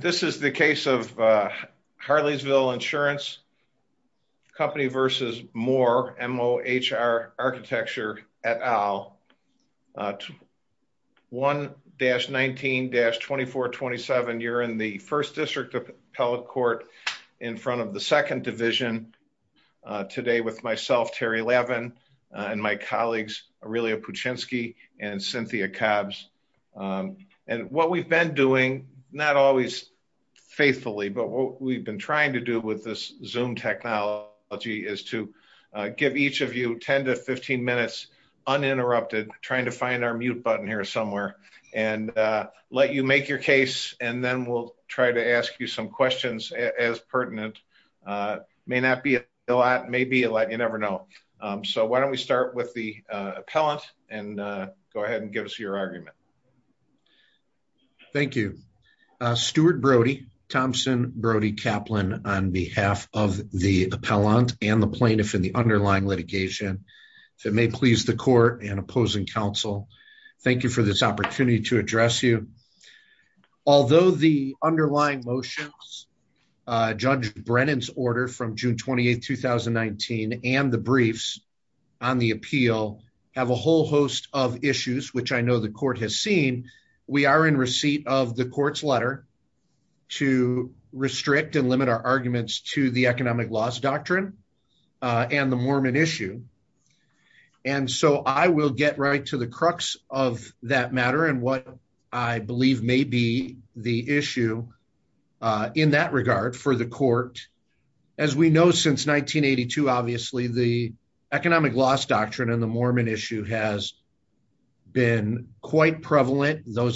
This is the case of Harleysville Insurance Company v. Moore, MOHR Architecture, et al. 1-19-2427. You're in the 1st District Appellate Court in front of the 2nd Division today with myself, Terry Levin, and my colleagues Aurelia Puchinski and Cynthia Cobbs. And what we've been doing, not always faithfully, but what we've been trying to do with this Zoom technology is to give each of you 10-15 minutes uninterrupted, trying to find our mute button here somewhere, and let you make your case and then we'll try to ask you some questions as pertinent. May not be a lot, may be a lot, you never know. So why don't we start with the questions. Thank you. Stuart Brody, Thompson, Brody, Kaplan, on behalf of the appellant and the plaintiff in the underlying litigation, if it may please the court and opposing counsel, thank you for this opportunity to address you. Although the underlying motions, Judge Brennan's order from June 28, 2019, and the briefs on the appeal have a whole host of seen, we are in receipt of the court's letter to restrict and limit our arguments to the economic loss doctrine and the Mormon issue. And so I will get right to the crux of that matter and what I believe may be the issue in that regard for the court. As we know, since 1982, obviously, the those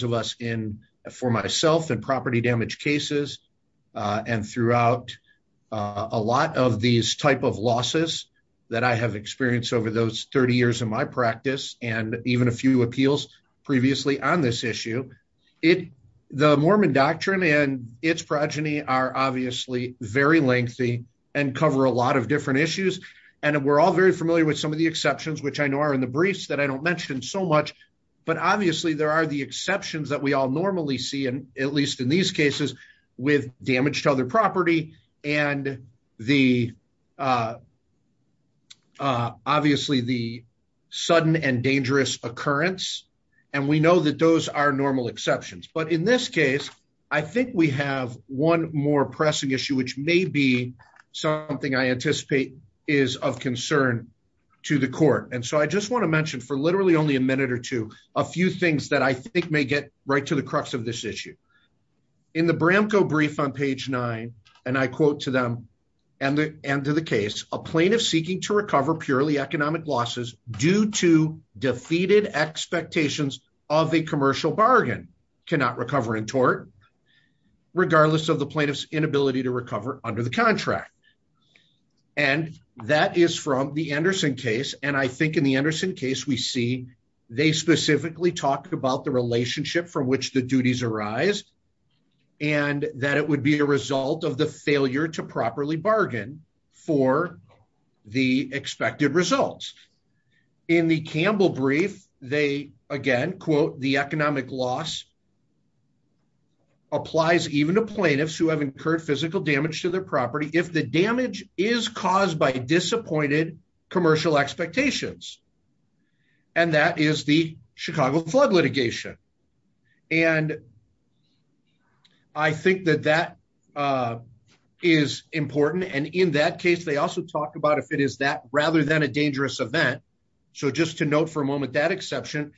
of us in for myself and property damage cases, and throughout a lot of these type of losses that I have experienced over those 30 years in my practice, and even a few appeals previously on this issue, it, the Mormon doctrine and its progeny are obviously very lengthy, and cover a lot of different issues. And we're all very familiar with some of the exceptions, which I know are in the briefs that I don't mention so much. But obviously, there are the exceptions that we all normally see, and at least in these cases, with damage to other property, and the obviously the sudden and dangerous occurrence. And we know that those are normal exceptions. But in this case, I think we have one more pressing issue, which may be something I anticipate is of concern to the court. And so I just want to mention for literally only a minute or two, a few things that I think may get right to the crux of this issue. In the Bramco brief on page nine, and I quote to them, and the end of the case, a plaintiff seeking to recover purely economic losses due to defeated expectations of a commercial bargain cannot recover in tort, regardless of the plaintiff's inability to recover under the contract. And that is from the Anderson case. And I think in the Anderson case, we see, they specifically talked about the relationship from which the duties arise, and that it would be a result of the failure to properly bargain for the expected results. In the Campbell brief, they again, quote, the economic loss applies even to plaintiffs who have incurred physical damage to their property if the damage is caused by disappointed commercial expectations. And that is the Chicago flood litigation. And I think that that is important. And in that case, they also talk about if it is that rather than a dangerous event. So just to note for a moment, that exception,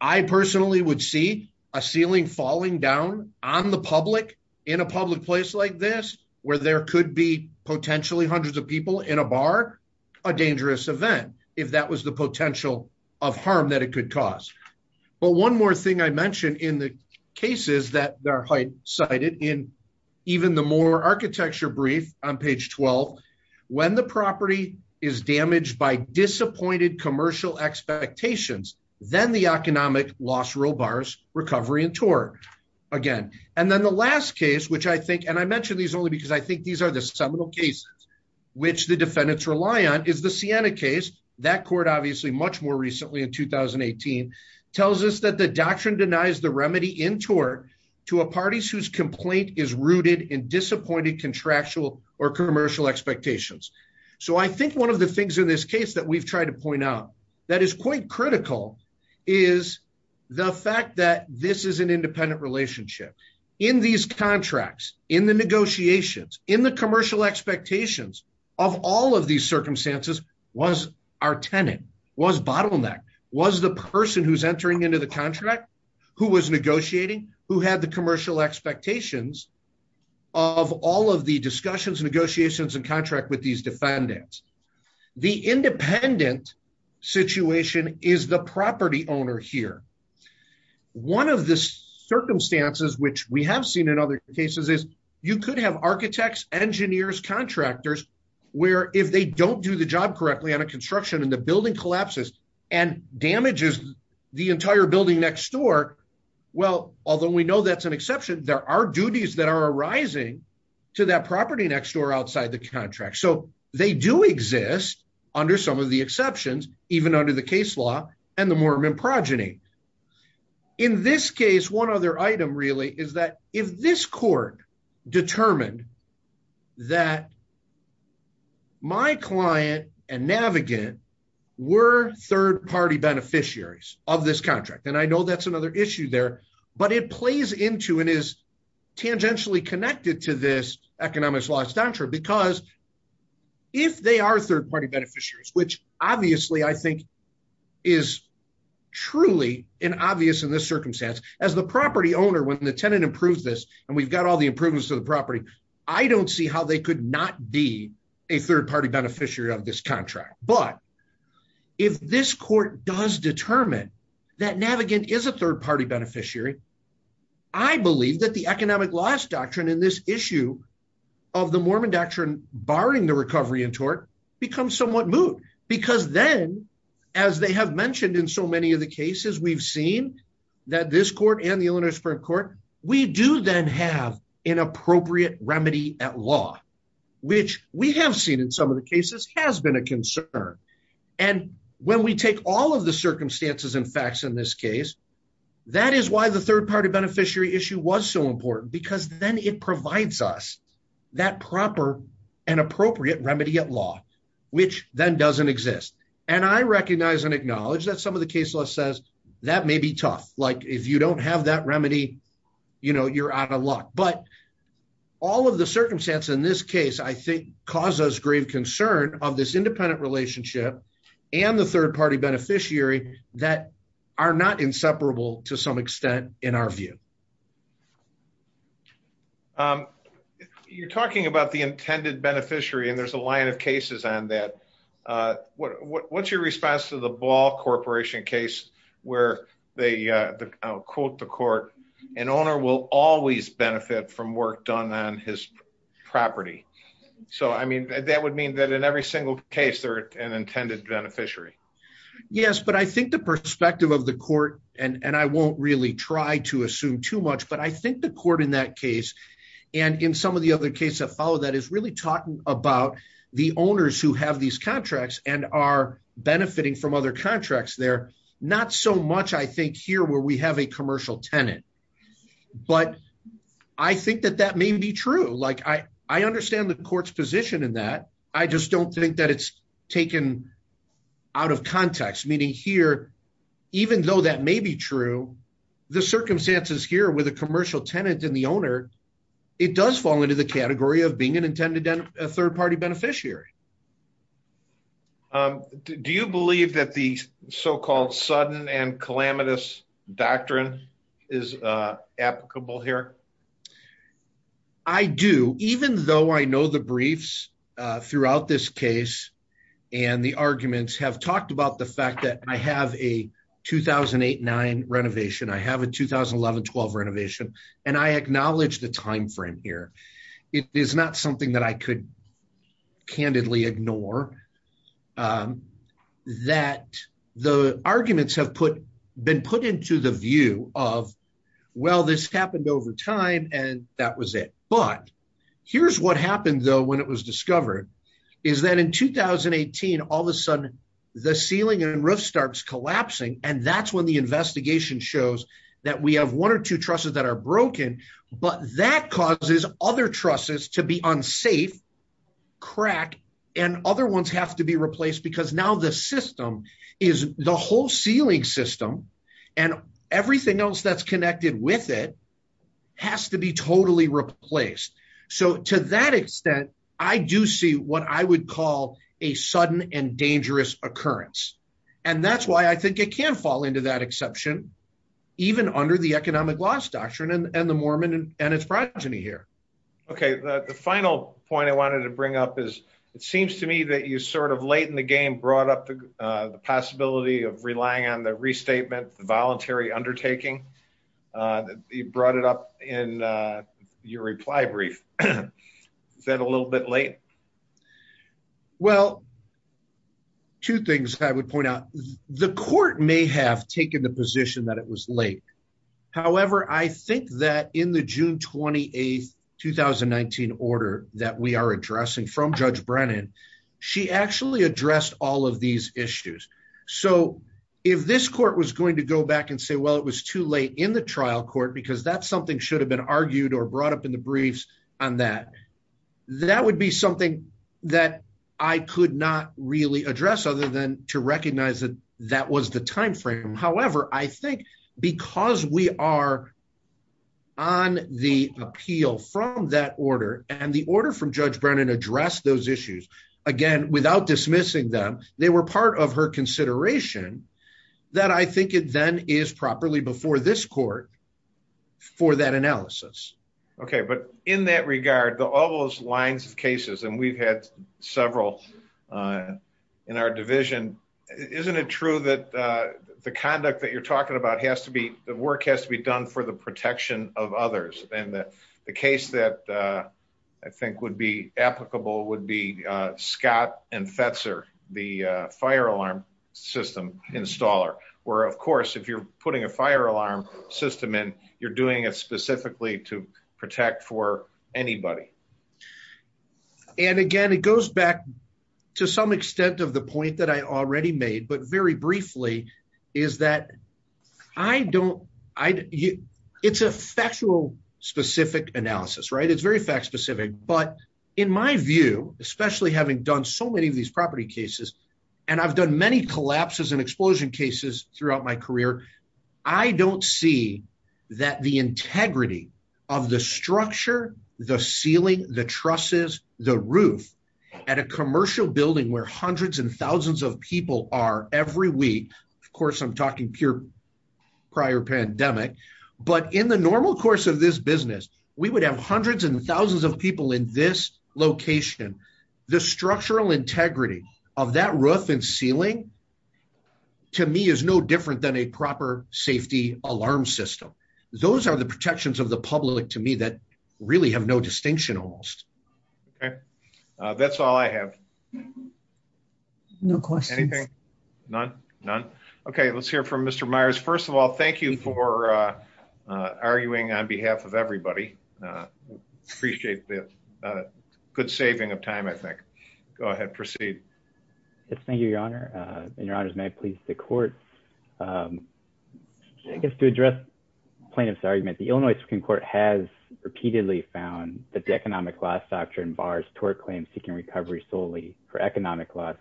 I personally would see a ceiling falling down on the public in a public place like this, where there could be potentially hundreds of people in a bar, a dangerous event, if that was the potential of harm that it could cause. But one more thing I mentioned in the cases that are cited in even the more architecture brief on page 12, when the property is damaged by disappointed commercial expectations, then the economic loss rule bars, recovery and tort. Again, and then the last case, which I think and I mentioned these only because I think these are the seminal cases, which the defendants rely on is the Sienna case. That court obviously much more recently in 2018, tells us that the doctrine denies the remedy in tort to a parties whose complaint is rooted in disappointed contractual or commercial expectations. So I think one of the things in this case that we've tried to point out that is quite critical is the fact that this is an independent relationship in these contracts, in the negotiations, in the commercial expectations of all of these circumstances was our tenant, was bottleneck, was the person who's entering into the contract, who was negotiating, who had commercial expectations of all of the discussions, negotiations and contract with these defendants. The independent situation is the property owner here. One of the circumstances, which we have seen in other cases is you could have architects, engineers, contractors, where if they don't do the job correctly on a construction and the building collapses, and damages the entire building next door. Well, although we know that's an exception, there are duties that are arising to that property next door outside the contract. So they do exist under some of the exceptions, even under the case law and the Mormon progeny. In this case, one other item really is that if this I know that's another issue there, but it plays into and is tangentially connected to this economics law. It's not true because if they are third party beneficiaries, which obviously I think is truly an obvious in this circumstance, as the property owner, when the tenant improves this, and we've got all the improvements to the property, I don't see how they could not be a third party beneficiary of this contract. But if this court does determine that Navigant is a third party beneficiary, I believe that the economic loss doctrine in this issue of the Mormon doctrine barring the recovery in tort becomes somewhat moot. Because then, as they have mentioned in so many of the cases we've seen, that this court and the Illinois remedy at law, which we have seen in some of the cases has been a concern. And when we take all of the circumstances and facts in this case, that is why the third party beneficiary issue was so important because then it provides us that proper and appropriate remedy at law, which then doesn't exist. And I recognize and acknowledge that some of the case law says that may be tough. Like if don't have that remedy, you know, you're out of luck. But all of the circumstances in this case, I think, cause us grave concern of this independent relationship and the third party beneficiary that are not inseparable to some extent in our view. You're talking about the intended beneficiary, and there's a line of cases on that. What's your response to the Ball Corporation case where they quote the court, an owner will always benefit from work done on his property. So I mean, that would mean that in every single case, they're an intended beneficiary. Yes, but I think the perspective of the court, and I won't really try to assume too much, but I think the court in that case, and in some of the other cases that really talking about the owners who have these contracts and are benefiting from other contracts, they're not so much. I think here where we have a commercial tenant, but I think that that may be true. Like I understand the court's position in that. I just don't think that it's taken out of context, meaning here, even though that may be true, the circumstances here with a commercial tenant and the owner, it does fall into the category of being an intended third party beneficiary. Do you believe that the so-called sudden and calamitous doctrine is applicable here? I do, even though I know the briefs throughout this case and the arguments have talked about the fact that I have a 2008-9 renovation, I have a 2011-12 renovation, and I acknowledge the time frame here. It is not something that I could candidly ignore, that the arguments have been put into the view of, well, this happened over time, and that was it. But here's what starts collapsing, and that's when the investigation shows that we have one or two trusses that are broken, but that causes other trusses to be unsafe, crack, and other ones have to be replaced because now the system is the whole ceiling system, and everything else that's connected with it has to be totally replaced. So to that extent, I do see what I would call a sudden and dangerous occurrence, and that's why I think it can fall into that exception, even under the economic loss doctrine and the Mormon and its progeny here. Okay. The final point I wanted to bring up is it seems to me that you sort of late in the game brought up the possibility of relying on the restatement, the voluntary undertaking. You brought it up in your reply brief. Is that a little bit late? Well, two things I would point out. The court may have taken the position that it was late. However, I think that in the June 28, 2019 order that we are addressing from Judge Brennan, she actually addressed all of these issues. So if this court was going to go back and say, well, it was too late in the trial court because that's something should have been argued or that I could not really address other than to recognize that that was the time frame. However, I think because we are on the appeal from that order and the order from Judge Brennan addressed those issues, again, without dismissing them, they were part of her consideration that I think it then is properly before this court for that analysis. Okay. But in that regard, all those lines of cases, and we've had several in our division, isn't it true that the conduct that you're talking about has to be, the work has to be done for the protection of others? And the case that I think would be applicable would be Scott and Fetzer, the fire alarm system installer, where of course, if you're putting a fire alarm system in, you're doing it specifically to protect for anybody. And again, it goes back to some extent of the point that I already made, but very briefly is that I don't, it's a factual specific analysis, right? It's very fact specific, but in my view, especially having done so many of these property cases, and I've done many collapses and explosion cases throughout my career, I don't see that the integrity of the structure, the ceiling, the trusses, the roof at a commercial building where hundreds and thousands of people are every week, of course, I'm talking pure prior pandemic, but in the normal course of this business, we would have hundreds and thousands of people in this location, the structural integrity of that roof and ceiling to me is no different than a proper safety alarm system. Those are the protections of the public to me that really have no distinction almost. Okay, that's all I have. No questions. Anything? None? None? Okay, let's hear from Mr. Myers. First of all, thank you for arguing on behalf of everybody. Appreciate the good saving of time, I think. Go ahead, proceed. Yes, thank you, your honor. And your honors, may I please the court. I guess to address plaintiff's argument, the Illinois Supreme Court has repeatedly found that the economic loss doctrine bars tort claims seeking recovery solely for economic loss,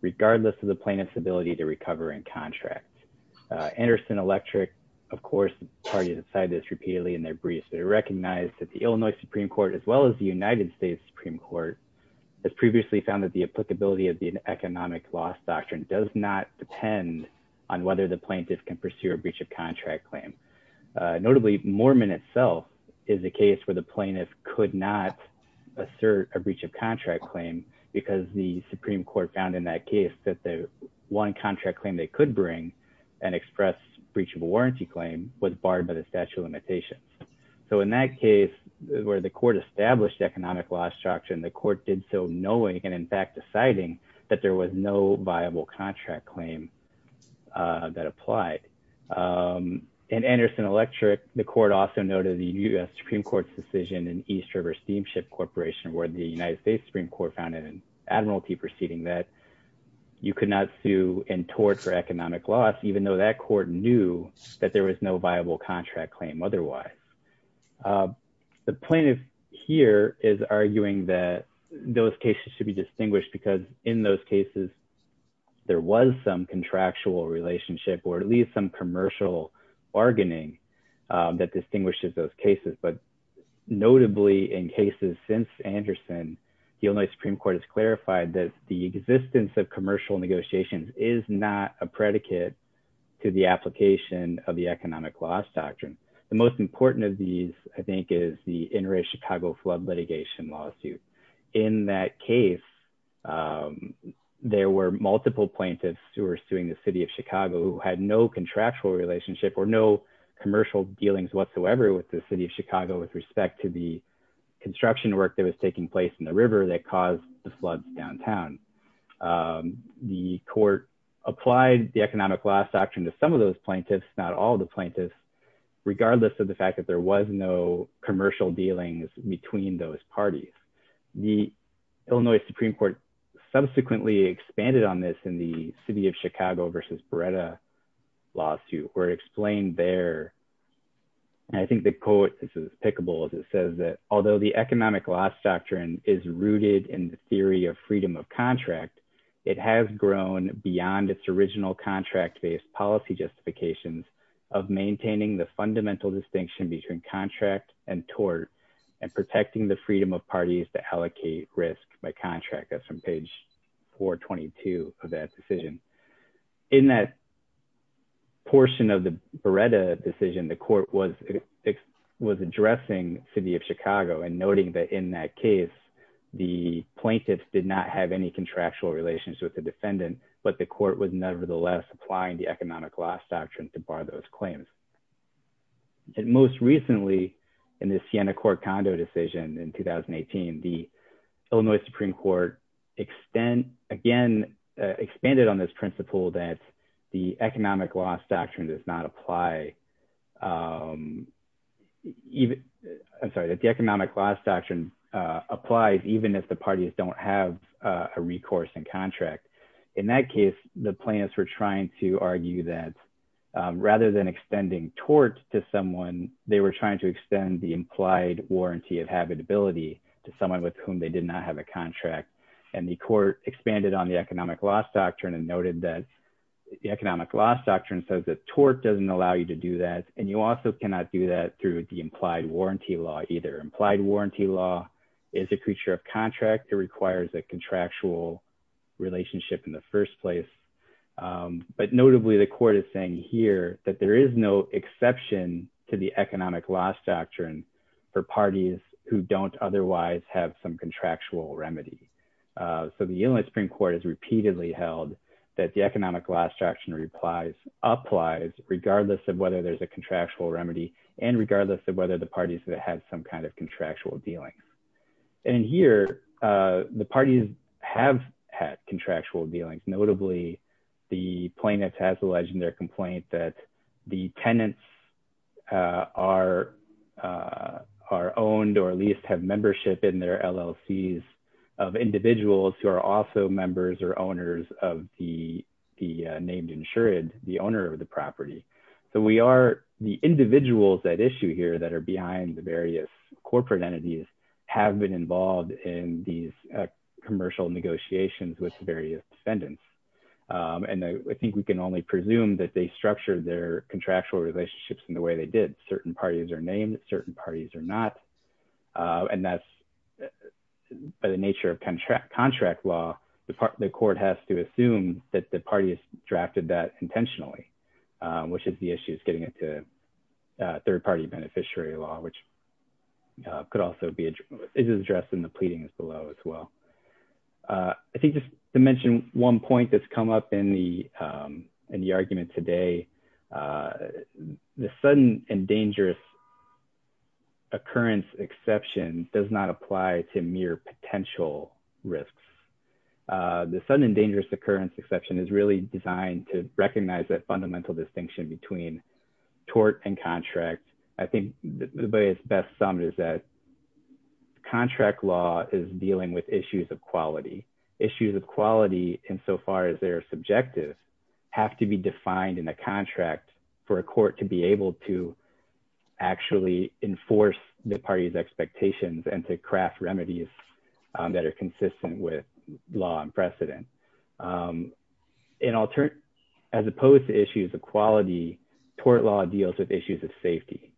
regardless of the plaintiff's ability to recover in contract. Anderson Electric, of course, parties have said this repeatedly in their briefs, they recognize that the Illinois Supreme Court, as well as the United States Supreme Court, has previously found that the applicability of the economic loss doctrine does not depend on whether the plaintiff can pursue a breach of contract claim. Notably, Mormon itself is a case where the plaintiff could not assert a breach of contract claim, because the Supreme Court found in that case that the one contract claim they could bring and express breach of warranty claim was barred by the statute of limitations. So in that case, where the court established economic loss doctrine, the court did so knowing and in fact, deciding that there was no viable contract claim that applied. And Anderson Electric, the court also noted the US Supreme Court's decision in East River Steamship Corporation, where the United States Supreme Court found in an admiralty proceeding that you could not sue in tort for economic loss, even though that court knew that there was no viable contract claim otherwise. The plaintiff here is arguing that those cases should be distinguished because in those cases, there was some contractual relationship or at least some commercial bargaining that distinguishes those cases. But notably, in cases since Anderson, the Illinois Supreme Court has clarified that the existence of commercial negotiations is not a The most important of these, I think, is the inner Chicago flood litigation lawsuit. In that case, there were multiple plaintiffs who are suing the city of Chicago had no contractual relationship or no commercial dealings whatsoever with the city of Chicago with respect to the construction work that was taking place in the river that caused the floods downtown. The court applied the economic loss doctrine to some of those plaintiffs, not all the plaintiffs, regardless of the fact that there was no commercial dealings between those parties. The Illinois Supreme Court subsequently expanded on this in the city of Chicago versus Beretta lawsuit were explained there. And I think the quote, this is pickables, it says that although the economic loss doctrine is rooted in the theory of freedom of contract, it has grown beyond its original contract based policy justifications of maintaining the fundamental distinction between contract and tort, and protecting the freedom of parties to allocate risk by contract. That's from page 422 of that decision. In that portion of the Beretta decision, the court was was addressing city of Chicago and noting that in that case, the plaintiffs did not have any contractual relations with the defendant, but the court was nevertheless applying the economic loss doctrine to bar those claims. And most recently, in the Siena court condo decision in 2018, the Illinois Supreme Court extend again, expanded on this principle that the economic loss doctrine does not apply. Even, I'm sorry that the economic loss doctrine applies even if the parties don't have a recourse and contract. In that case, the plaintiffs were trying to argue that rather than extending tort to someone, they were trying to extend the implied warranty of habitability to someone with whom they did not have a contract. And the court expanded on the economic loss doctrine and noted that the economic loss doctrine says that tort doesn't allow you to do that. And you also cannot do that through the implied warranty law either. Implied warranty law is a creature of contract. It requires a contractual relationship in the first place. But notably, the court is saying here that there is no exception to the economic loss doctrine for parties who don't otherwise have some contractual remedy. So the Illinois Supreme Court has repeatedly held that the economic loss doctrine applies regardless of whether there's a contractual remedy and regardless of whether the parties that have some kind of contractual dealings. And here, the parties have had contractual dealings. Notably, the plaintiffs has alleged in their complaint that the tenants are owned or at least have membership in their LLCs of individuals who are also members or owners of the named insured, the owner of the property. So we are, the individuals at issue here that are behind the various corporate entities have been involved in these commercial negotiations with various defendants. And I think we can only presume that they structured their contractual relationships in the way they did. Certain parties are named, certain parties are not. And that's by the nature contract law, the court has to assume that the party has drafted that intentionally, which is the issue is getting it to a third party beneficiary law, which could also be addressed in the pleadings below as well. I think just to mention one point that's come up in the argument today, the sudden and dangerous occurrence exception does not apply to mere potential risks. The sudden and dangerous occurrence exception is really designed to recognize that fundamental distinction between tort and contract. I think the way it's best summed is that contract law is dealing with issues of quality. Issues of quality insofar as they're subjective have to be defined in a contract for a court to be able to actually enforce the party's expectations and to craft remedies that are consistent with law and precedent. As opposed to issues of quality, tort law deals with issues of safety.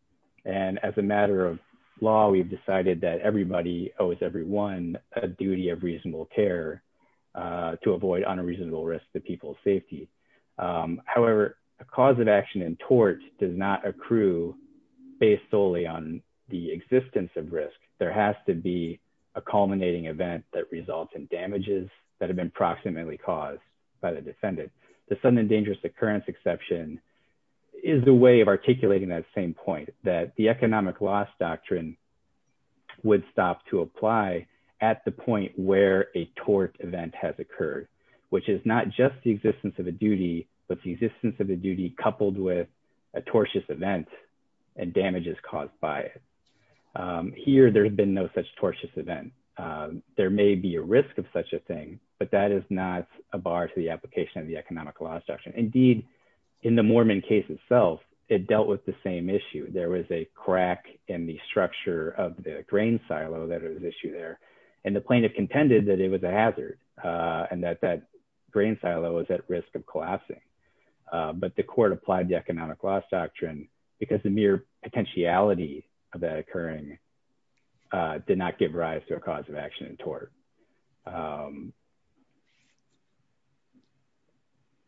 And as a matter of law, we've decided that everybody owes everyone a duty of reasonable care to avoid unreasonable risks to people's safety. However, a cause of action in tort does not accrue based solely on the existence of risk. There has to be a culminating event that results in damages that have been proximately caused by the defendant. The sudden and dangerous occurrence exception is a way of articulating that same point, that the economic loss doctrine would stop to apply at the point where a tort event has occurred, which is not just the existence of duty coupled with a tortious event and damages caused by it. Here, there has been no such tortious event. There may be a risk of such a thing, but that is not a bar to the application of the economic loss doctrine. Indeed, in the Moorman case itself, it dealt with the same issue. There was a crack in the structure of the grain silo that was issued there, and the plaintiff contended that it was a hazard and that that grain silo was at risk of collapsing. But the court applied the economic loss doctrine because the mere potentiality of that occurring did not give rise to a cause of action in tort.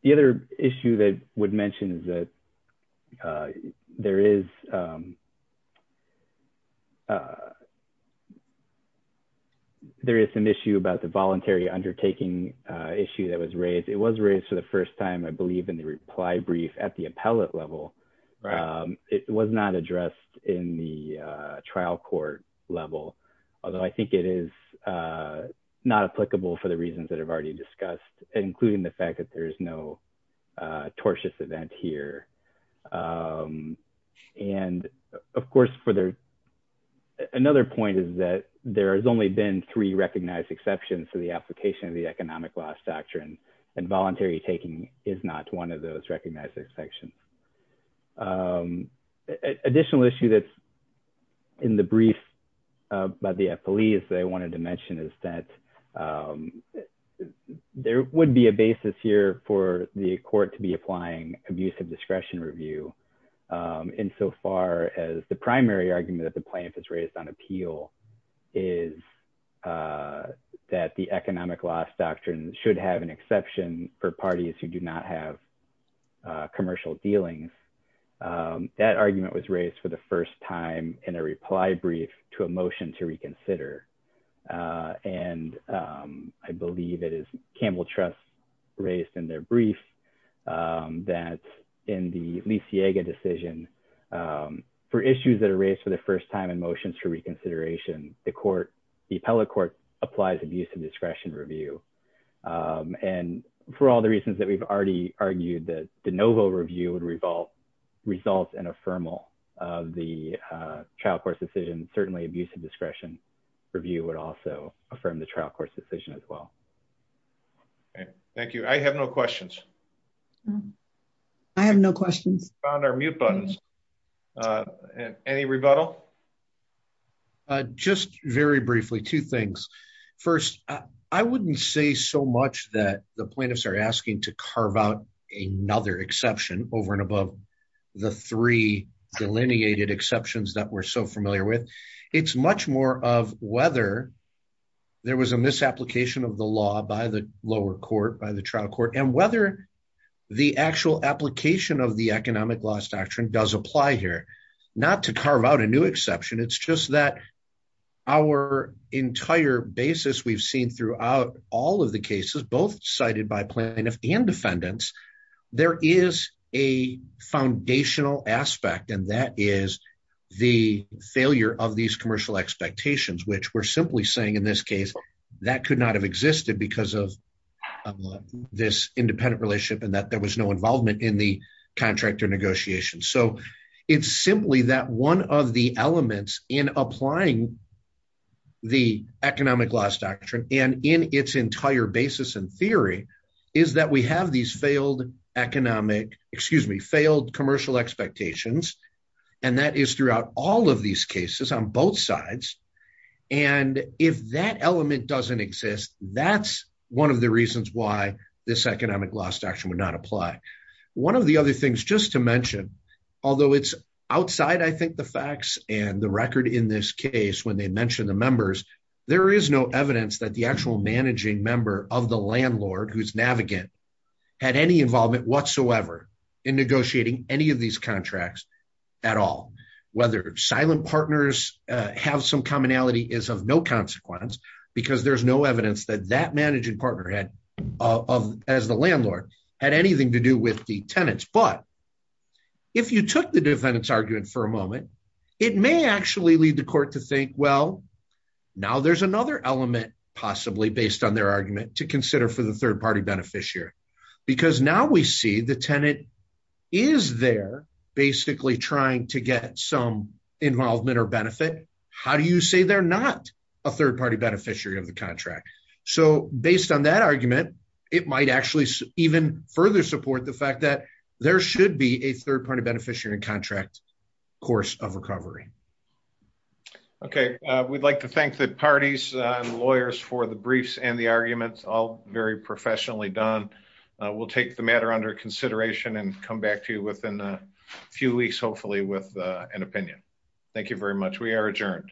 The other issue that I would mention is that there is some issue about the voluntary undertaking issue that was raised. It was raised for the first time, I believe, in the reply brief at the appellate level. It was not addressed in the trial court level, although I think it is not applicable for the reasons that I've already discussed, including the fact that there is no tortious event here. And I think that there is a of course, another point is that there has only been three recognized exceptions to the application of the economic loss doctrine, and voluntary taking is not one of those recognized exceptions. Additional issue that's in the brief by the appellees that I wanted to mention is that there would be a basis here for the court to be applying abusive discretion review insofar as the primary argument that the plaintiff has raised on appeal is that the economic loss doctrine should have an exception for parties who do not have commercial dealings. That argument was raised for the first time in a reply brief to a motion to reconsider. And I believe it is Campbell Trust raised in their brief that in the Leciaga decision, for issues that are raised for the first time in motions for reconsideration, the court, the appellate court applies abusive discretion review. And for all the reasons that we've already argued that the novo review would result in a formal of the trial court's decision, certainly abusive discretion review would also affirm the trial court's decision as well. Okay, thank you. I have no questions. I have no questions. Found our mute buttons. Any rebuttal? Just very briefly, two things. First, I wouldn't say so much that the plaintiffs are asking to carve out another exception over and above the three delineated exceptions that we're so familiar with. It's much more of whether there was a misapplication of the law by the lower court, by the trial court, and whether the actual application of the economic loss doctrine does apply here, not to carve out a new exception. It's just that our entire basis we've seen throughout all of the cases, both cited by plaintiffs and defendants, there is a foundational aspect, and that is the failure of these commercial expectations, which we're simply saying, in this case, that could not have existed because of this independent relationship, and that there was no involvement in the contractor negotiation. So it's simply that one of the elements in applying the economic loss doctrine, and in its entire basis and theory, is that we have these failed commercial expectations, and that is throughout all of these cases on both sides. And if that element doesn't exist, that's one of the reasons why this economic loss doctrine would not apply. One of the other things just to mention, although it's outside, I think, the facts and the record in this case when they mentioned the members, there is no evidence that the actual managing member of the landlord who's navigant had any involvement whatsoever in negotiating any of these contracts at all. Whether silent partners have some commonality is of no consequence, because there's no evidence that that managing partner as the landlord had anything to do with the tenants. But if you took the defendant's argument for a moment, it may actually lead the court to think, well, now there's another element, possibly based on their argument, to consider for the third party beneficiary. Because now we see the tenant is there, basically trying to get some involvement or benefit. How do you say they're not a third party beneficiary of the contract? So based on that argument, it might actually even further support the fact that there should be a third party beneficiary contract course of recovery. Okay, we'd like to thank the parties, lawyers for the briefs and the arguments all very professionally done. We'll take the matter under consideration and come back to you within a few weeks, hopefully with an opinion. Thank you very much. We are adjourned.